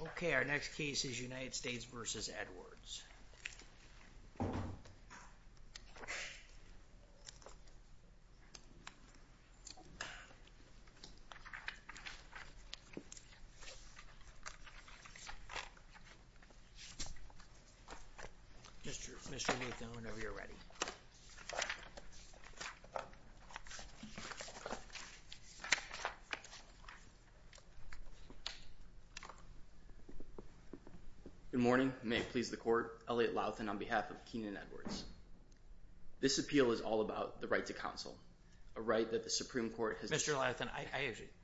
Okay, our next case is United States v. Edwards. Mr. Nathan, whenever you're ready. Good morning, may it please the court, Elliot Lauthan on behalf of Kenin Edwards. This appeal is all about the right to counsel, a right that the Supreme Court has... Mr. Lauthan,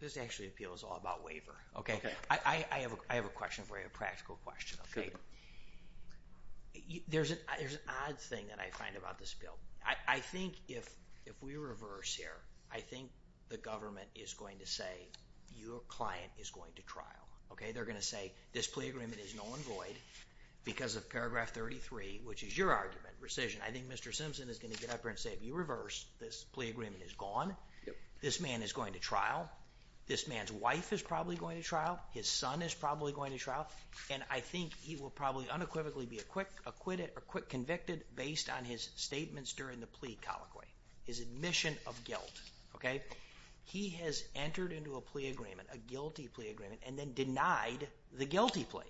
this actually appeal is all about waiver. Okay. I have a question for you, a practical question. There's an odd thing that I find about this bill. I think if we reverse here, I think the government is going to say, your client is going to trial. Okay, they're going to say, this plea agreement is null and void because of paragraph 33, which is your argument, rescission. I think Mr. Simpson is going to get up here and say, if you reverse, this plea agreement is gone, this man is going to trial, this man's wife is probably going to trial, his son is probably going to trial. And I think he will probably unequivocally be acquitted or quick convicted based on his statements during the plea colloquy, his admission of guilt. He has entered into a plea agreement, a guilty plea agreement, and then denied the guilty plea,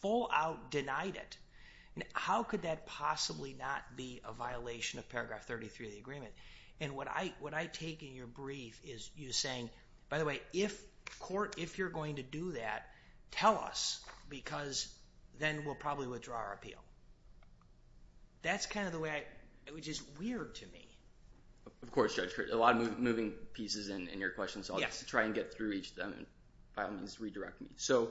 full out denied it. How could that possibly not be a violation of paragraph 33 of the agreement? And what I take in your brief is you saying, by the way, if court, if you're going to do that, tell us because then we'll probably withdraw our appeal. That's kind of the way I, which is weird to me. Of course, Judge, a lot of moving pieces in your question, so I'll try and get through each of them and by all means redirect me. So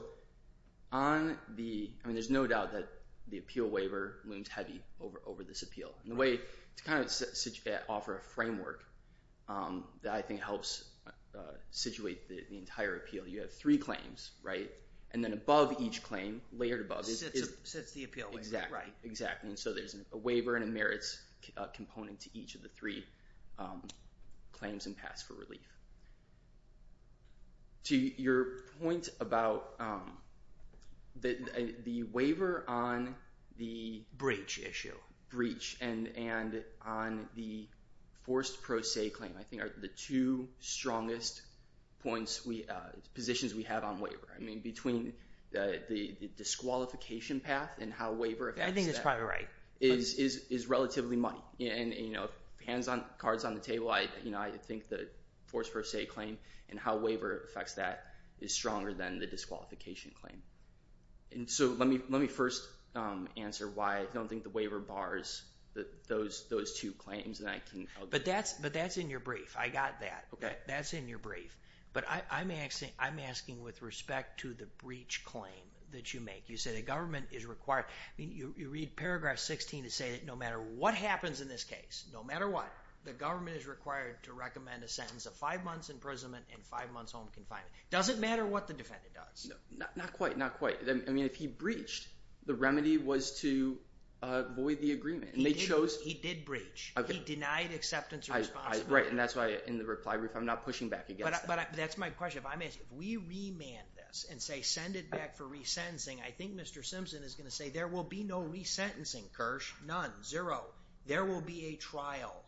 on the, I mean, there's no doubt that the appeal waiver looms heavy over this appeal. And the way to kind of offer a framework that I think helps situate the entire appeal, you have three claims, right? And then above each claim, layered above- Sets the appeal waiver, right? Exactly, exactly. And so there's a waiver and a merits component to each of the three claims and pass for relief. To your point about the waiver on the- Breach issue. Breach and on the forced pro se claim, I think are the two strongest positions we have on waiver. I mean, between the disqualification path and how waiver affects that- I think it's probably right. Is relatively money. And if hands on, cards on the table, I think the forced pro se claim and how waiver affects that is stronger than the disqualification claim. And so let me first answer why I don't think the waiver bars those two claims that I can- But that's in your brief. I got that. That's in your brief. But I'm asking with respect to the breach claim that you make. You say the government is required, you read paragraph 16 to say that no matter what happens in this case, no matter what, the government is required to recommend a sentence of five months imprisonment and five months home confinement. Doesn't matter what the defendant does. Not quite. Not quite. I mean, if he breached, the remedy was to avoid the agreement and they chose- He did breach. Okay. He denied acceptance of responsibility. Right. And that's why in the reply brief, I'm not pushing back against that. That's my question. If we remand this and say, send it back for resentencing, I think Mr. Simpson is going to say, there will be no resentencing, Kirsch, none, zero. There will be a trial.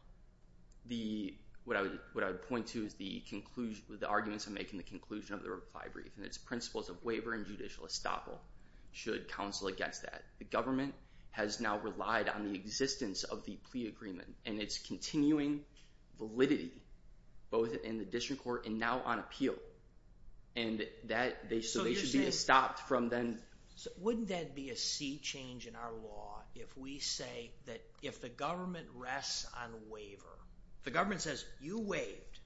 What I would point to is the arguments I make in the conclusion of the reply brief and its principles of waiver and judicial estoppel should counsel against that. The government has now relied on the existence of the plea agreement and it's continuing validity both in the district court and now on appeal. And that they should be stopped from then- Wouldn't that be a sea change in our law if we say that if the government rests on waiver, the government says, you waived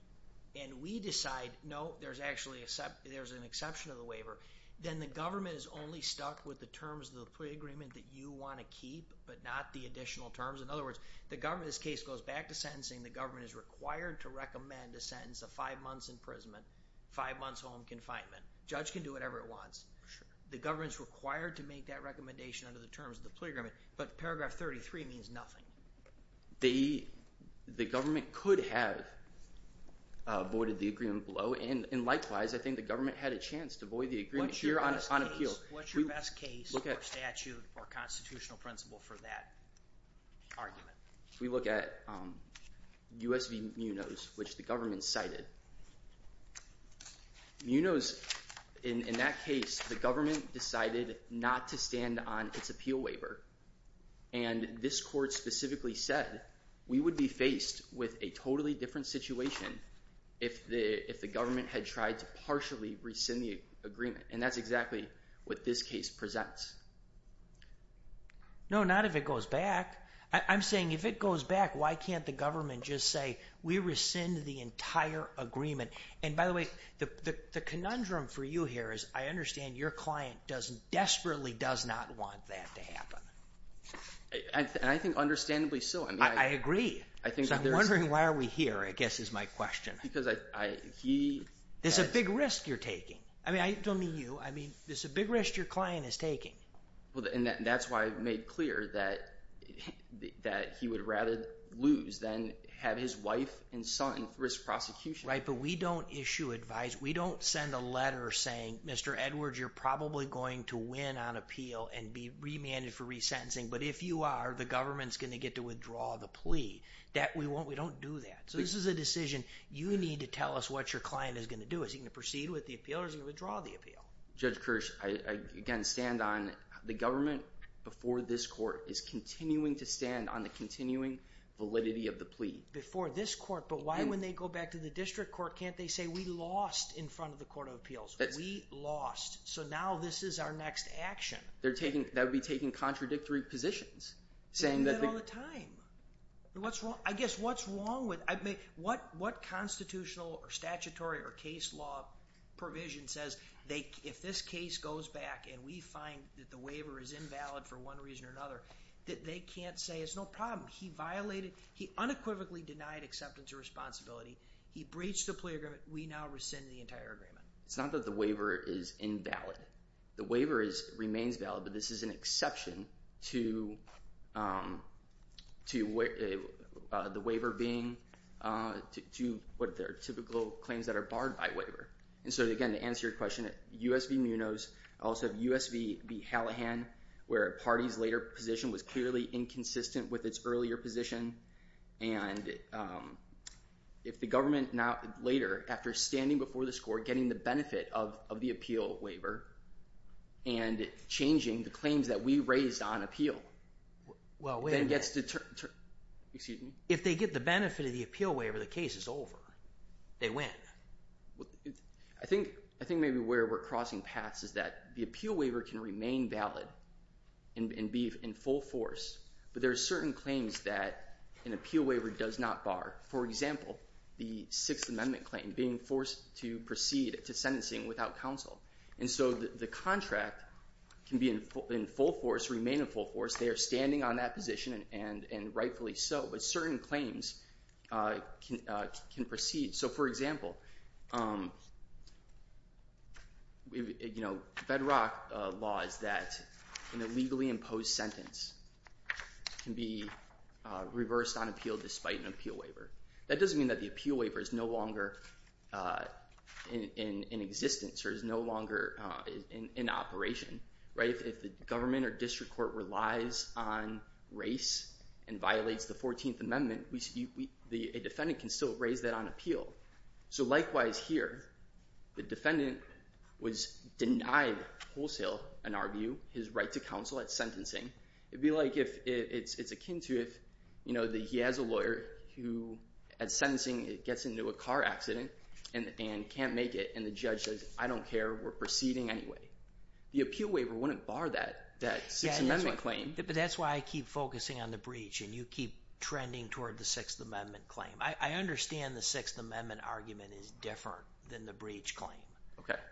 and we decide, no, there's actually an exception of the waiver. Then the government is only stuck with the terms of the plea agreement that you want to keep, but not the additional terms. In other words, the government, this case goes back to sentencing, the government is required to recommend a sentence of five months imprisonment, five months home confinement. Judge can do whatever it wants. The government's required to make that recommendation under the terms of the plea agreement. But paragraph 33 means nothing. The government could have avoided the agreement below and likewise, I think the government had a chance to avoid the agreement here on appeal. What's your best case or statute or constitutional principle for that argument? We look at U.S. v. Munoz, which the government cited. Munoz, in that case, the government decided not to stand on its appeal waiver. And this court specifically said, we would be faced with a totally different situation if the government had tried to partially rescind the agreement. And that's exactly what this case presents. No, not if it goes back. I'm saying if it goes back, why can't the government just say, we rescind the entire agreement? And by the way, the conundrum for you here is, I understand your client desperately does not want that to happen. I think understandably so. I agree. So I'm wondering why are we here, I guess is my question. Because he... There's a big risk you're taking. I mean, I don't mean you, I mean, there's a big risk your client is taking. Well, and that's why I made clear that he would rather lose than have his wife and son risk prosecution. Right, but we don't issue advice. We don't send a letter saying, Mr. Edwards, you're probably going to win on appeal and be remanded for resentencing. But if you are, the government's going to get to withdraw the plea. We don't do that. So this is a decision you need to tell us what your client is going to do. Is he going to proceed with the appeal or is he going to withdraw the appeal? Judge Kirsch, I again, stand on the government before this court is continuing to stand on the continuing validity of the plea. Before this court, but why when they go back to the district court, can't they say we lost in front of the court of appeals? We lost. So now this is our next action. They're taking, that would be taking contradictory positions, saying that all the time. What's wrong? I guess what's wrong with, I mean, what, what constitutional or statutory or case law provision says they, if this case goes back and we find that the waiver is invalid for one reason or another, that they can't say it's no problem. He violated, he unequivocally denied acceptance of responsibility. He breached the plea agreement. We now rescind the entire agreement. It's not that the waiver is invalid. The waiver is, remains valid, but this is an exception to the waiver being, to what their typical claims that are barred by waiver. And so again, to answer your question, US v. Munoz, also US v. Hallahan, where a party's later position was clearly inconsistent with its earlier position, and if the government now, later, after standing before the score, getting the benefit of the appeal waiver, and changing the claims that we raised on appeal, then gets to, excuse me? If they get the benefit of the appeal waiver, the case is over. They win. Well, I think, I think maybe where we're crossing paths is that the appeal waiver can remain valid and be in full force, but there are certain claims that an appeal waiver does not bar. For example, the Sixth Amendment claim, being forced to proceed to sentencing without counsel. And so the contract can be in full force, remain in full force, they are standing on that position, and rightfully so, but certain claims can proceed. So for example, you know, bedrock law is that an illegally imposed sentence can be reversed on appeal despite an appeal waiver. That doesn't mean that the appeal waiver is no longer in existence, or is no longer in operation, right? If the government or district court relies on race and violates the Fourteenth Amendment, the defendant can still raise that on appeal. So likewise here, the defendant was denied wholesale, in our view, his right to counsel at sentencing. It'd be like if, it's akin to if, you know, he has a lawyer who at sentencing gets into a car accident and can't make it, and the judge says, I don't care, we're proceeding anyway. The appeal waiver wouldn't bar that, that Sixth Amendment claim. But that's why I keep focusing on the breach, and you keep trending toward the Sixth Amendment claim. I understand the Sixth Amendment argument is different than the breach claim.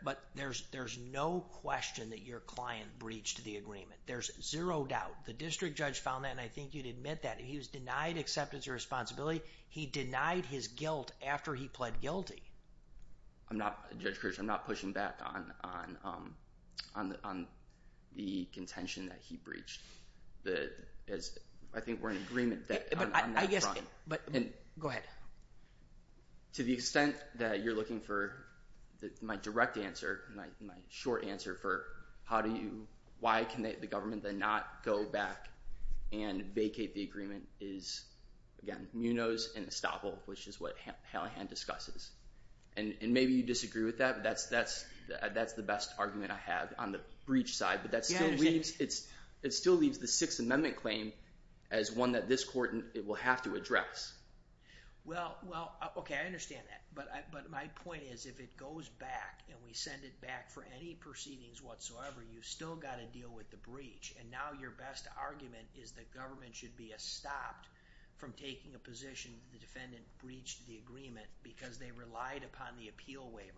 But there's no question that your client breached the agreement. There's zero doubt. The district judge found that, and I think you'd admit that, he was denied acceptance of responsibility. He denied his guilt after he pled guilty. I'm not, Judge Kirchhoff, I'm not pushing back on the contention that he breached. I think we're in agreement on that front. Go ahead. To the extent that you're looking for my direct answer, my short answer for how do you, why can the government then not go back and vacate the agreement is, again, Munoz and Estavol, which is what Hallahan discusses. And maybe you disagree with that, but that's the best argument I have on the breach side. But that still leaves the Sixth Amendment claim as one that this court will have to Well, okay, I understand that. But my point is, if it goes back and we send it back for any proceedings whatsoever, you've still got to deal with the breach. And now your best argument is the government should be stopped from taking a position the defendant breached the agreement because they relied upon the appeal waiver.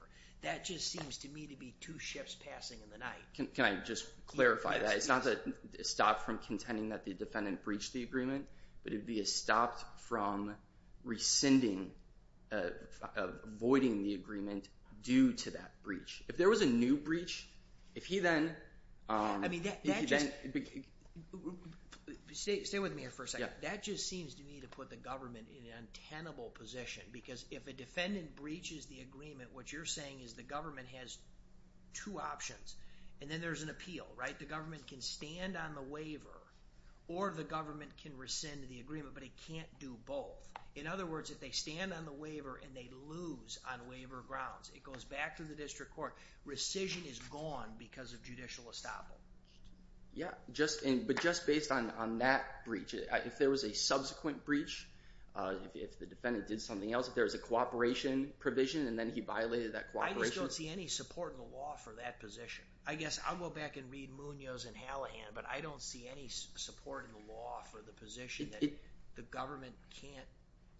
That just seems to me to be two ships passing in the night. Can I just clarify that? It's not that stopped from contending that the defendant breached the agreement, but it'd be stopped from rescinding, avoiding the agreement due to that breach. If there was a new breach, if he then I mean, that just, stay with me here for a second. That just seems to me to put the government in an untenable position, because if a defendant breaches the agreement, what you're saying is the government has two options. And then there's an appeal, right? The government can stand on the waiver or the government can rescind the agreement, but it can't do both. In other words, if they stand on the waiver and they lose on waiver grounds, it goes back to the district court. Rescission is gone because of judicial estoppel. Yeah. But just based on that breach, if there was a subsequent breach, if the defendant did something else, if there was a cooperation provision and then he violated that cooperation I just don't see any support in the law for that position. I guess I'll go back and read Munoz and Hallahan, but I don't see any support in the law for the position that the government can't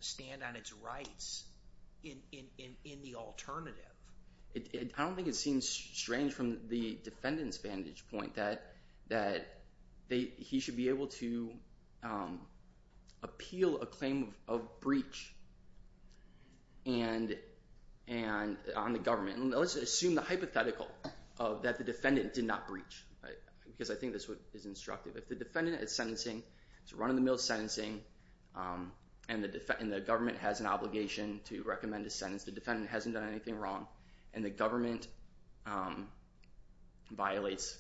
stand on its rights in the alternative. I don't think it seems strange from the defendant's vantage point that he should be able to appeal a claim of breach on the government. Let's assume the hypothetical that the defendant did not breach, because I think this is instructive. If the defendant is sentencing, it's a run-of-the-mill sentencing, and the government has an obligation to recommend a sentence. The defendant hasn't done anything wrong, and the government violates.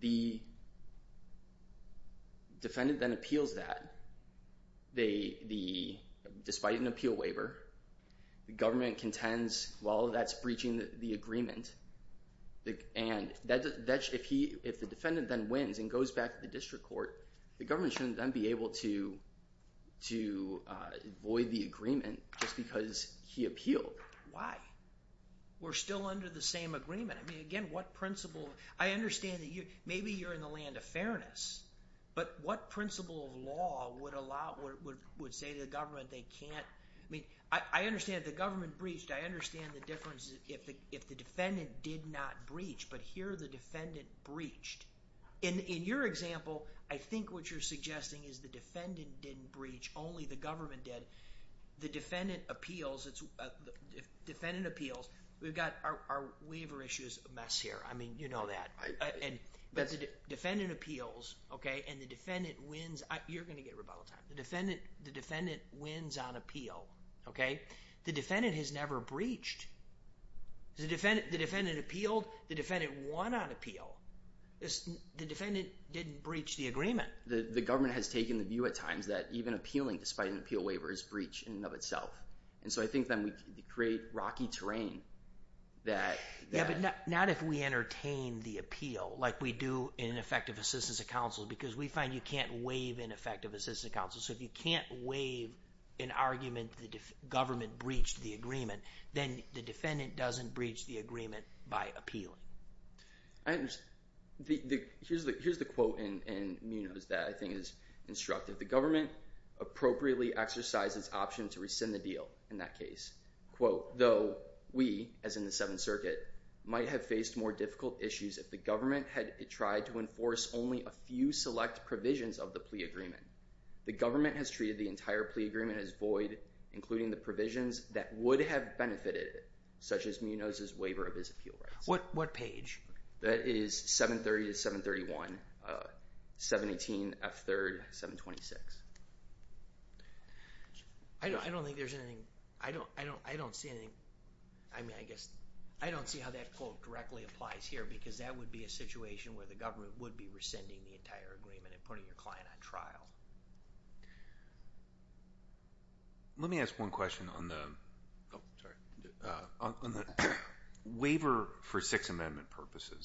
The defendant then appeals that, despite an appeal waiver. The government contends, well, that's breaching the agreement, and if the defendant then wins and goes back to the district court, the government shouldn't then be able to void the agreement just because he appealed. Why? We're still under the same agreement. I mean, again, what principle... I understand that maybe you're in the land of fairness, but what principle of law would say to the government they can't... I mean, I understand the government breached. I understand the difference if the defendant did not breach, but here the defendant breached. In your example, I think what you're suggesting is the defendant didn't breach, only the government did. The defendant appeals... We've got our waiver issues a mess here. I mean, you know that. Defendant appeals, and the defendant wins... You're going to get rebuttal time. The defendant wins on appeal. The defendant has never breached. The defendant appealed. The defendant won on appeal. The defendant didn't breach the agreement. The government has taken the view at times that even appealing despite an appeal waiver is breach in and of itself. I think then we create rocky terrain that... Yeah, but not if we entertain the appeal like we do in effective assistance of counsel because we find you can't waive an effective assistance of counsel. If you can't waive an argument the government breached the agreement, then the defendant doesn't breach the agreement by appealing. Here's the quote in Munoz that I think is instructive. The government appropriately exercises option to rescind the deal in that case. Though we, as in the Seventh Circuit, might have faced more difficult issues if the government had tried to enforce only a few select provisions of the plea agreement. The government has treated the entire plea agreement as void, including the provisions that would have benefited, such as Munoz's waiver of his appeal rights. What page? That is 730 to 731, 718, F3rd, 726. I don't think there's anything... I don't see anything... I mean, I guess... I don't see how that quote directly applies here because that would be a situation where the government would be rescinding the entire agreement and putting your client on trial. Let me ask one question on the waiver for Sixth Amendment purposes.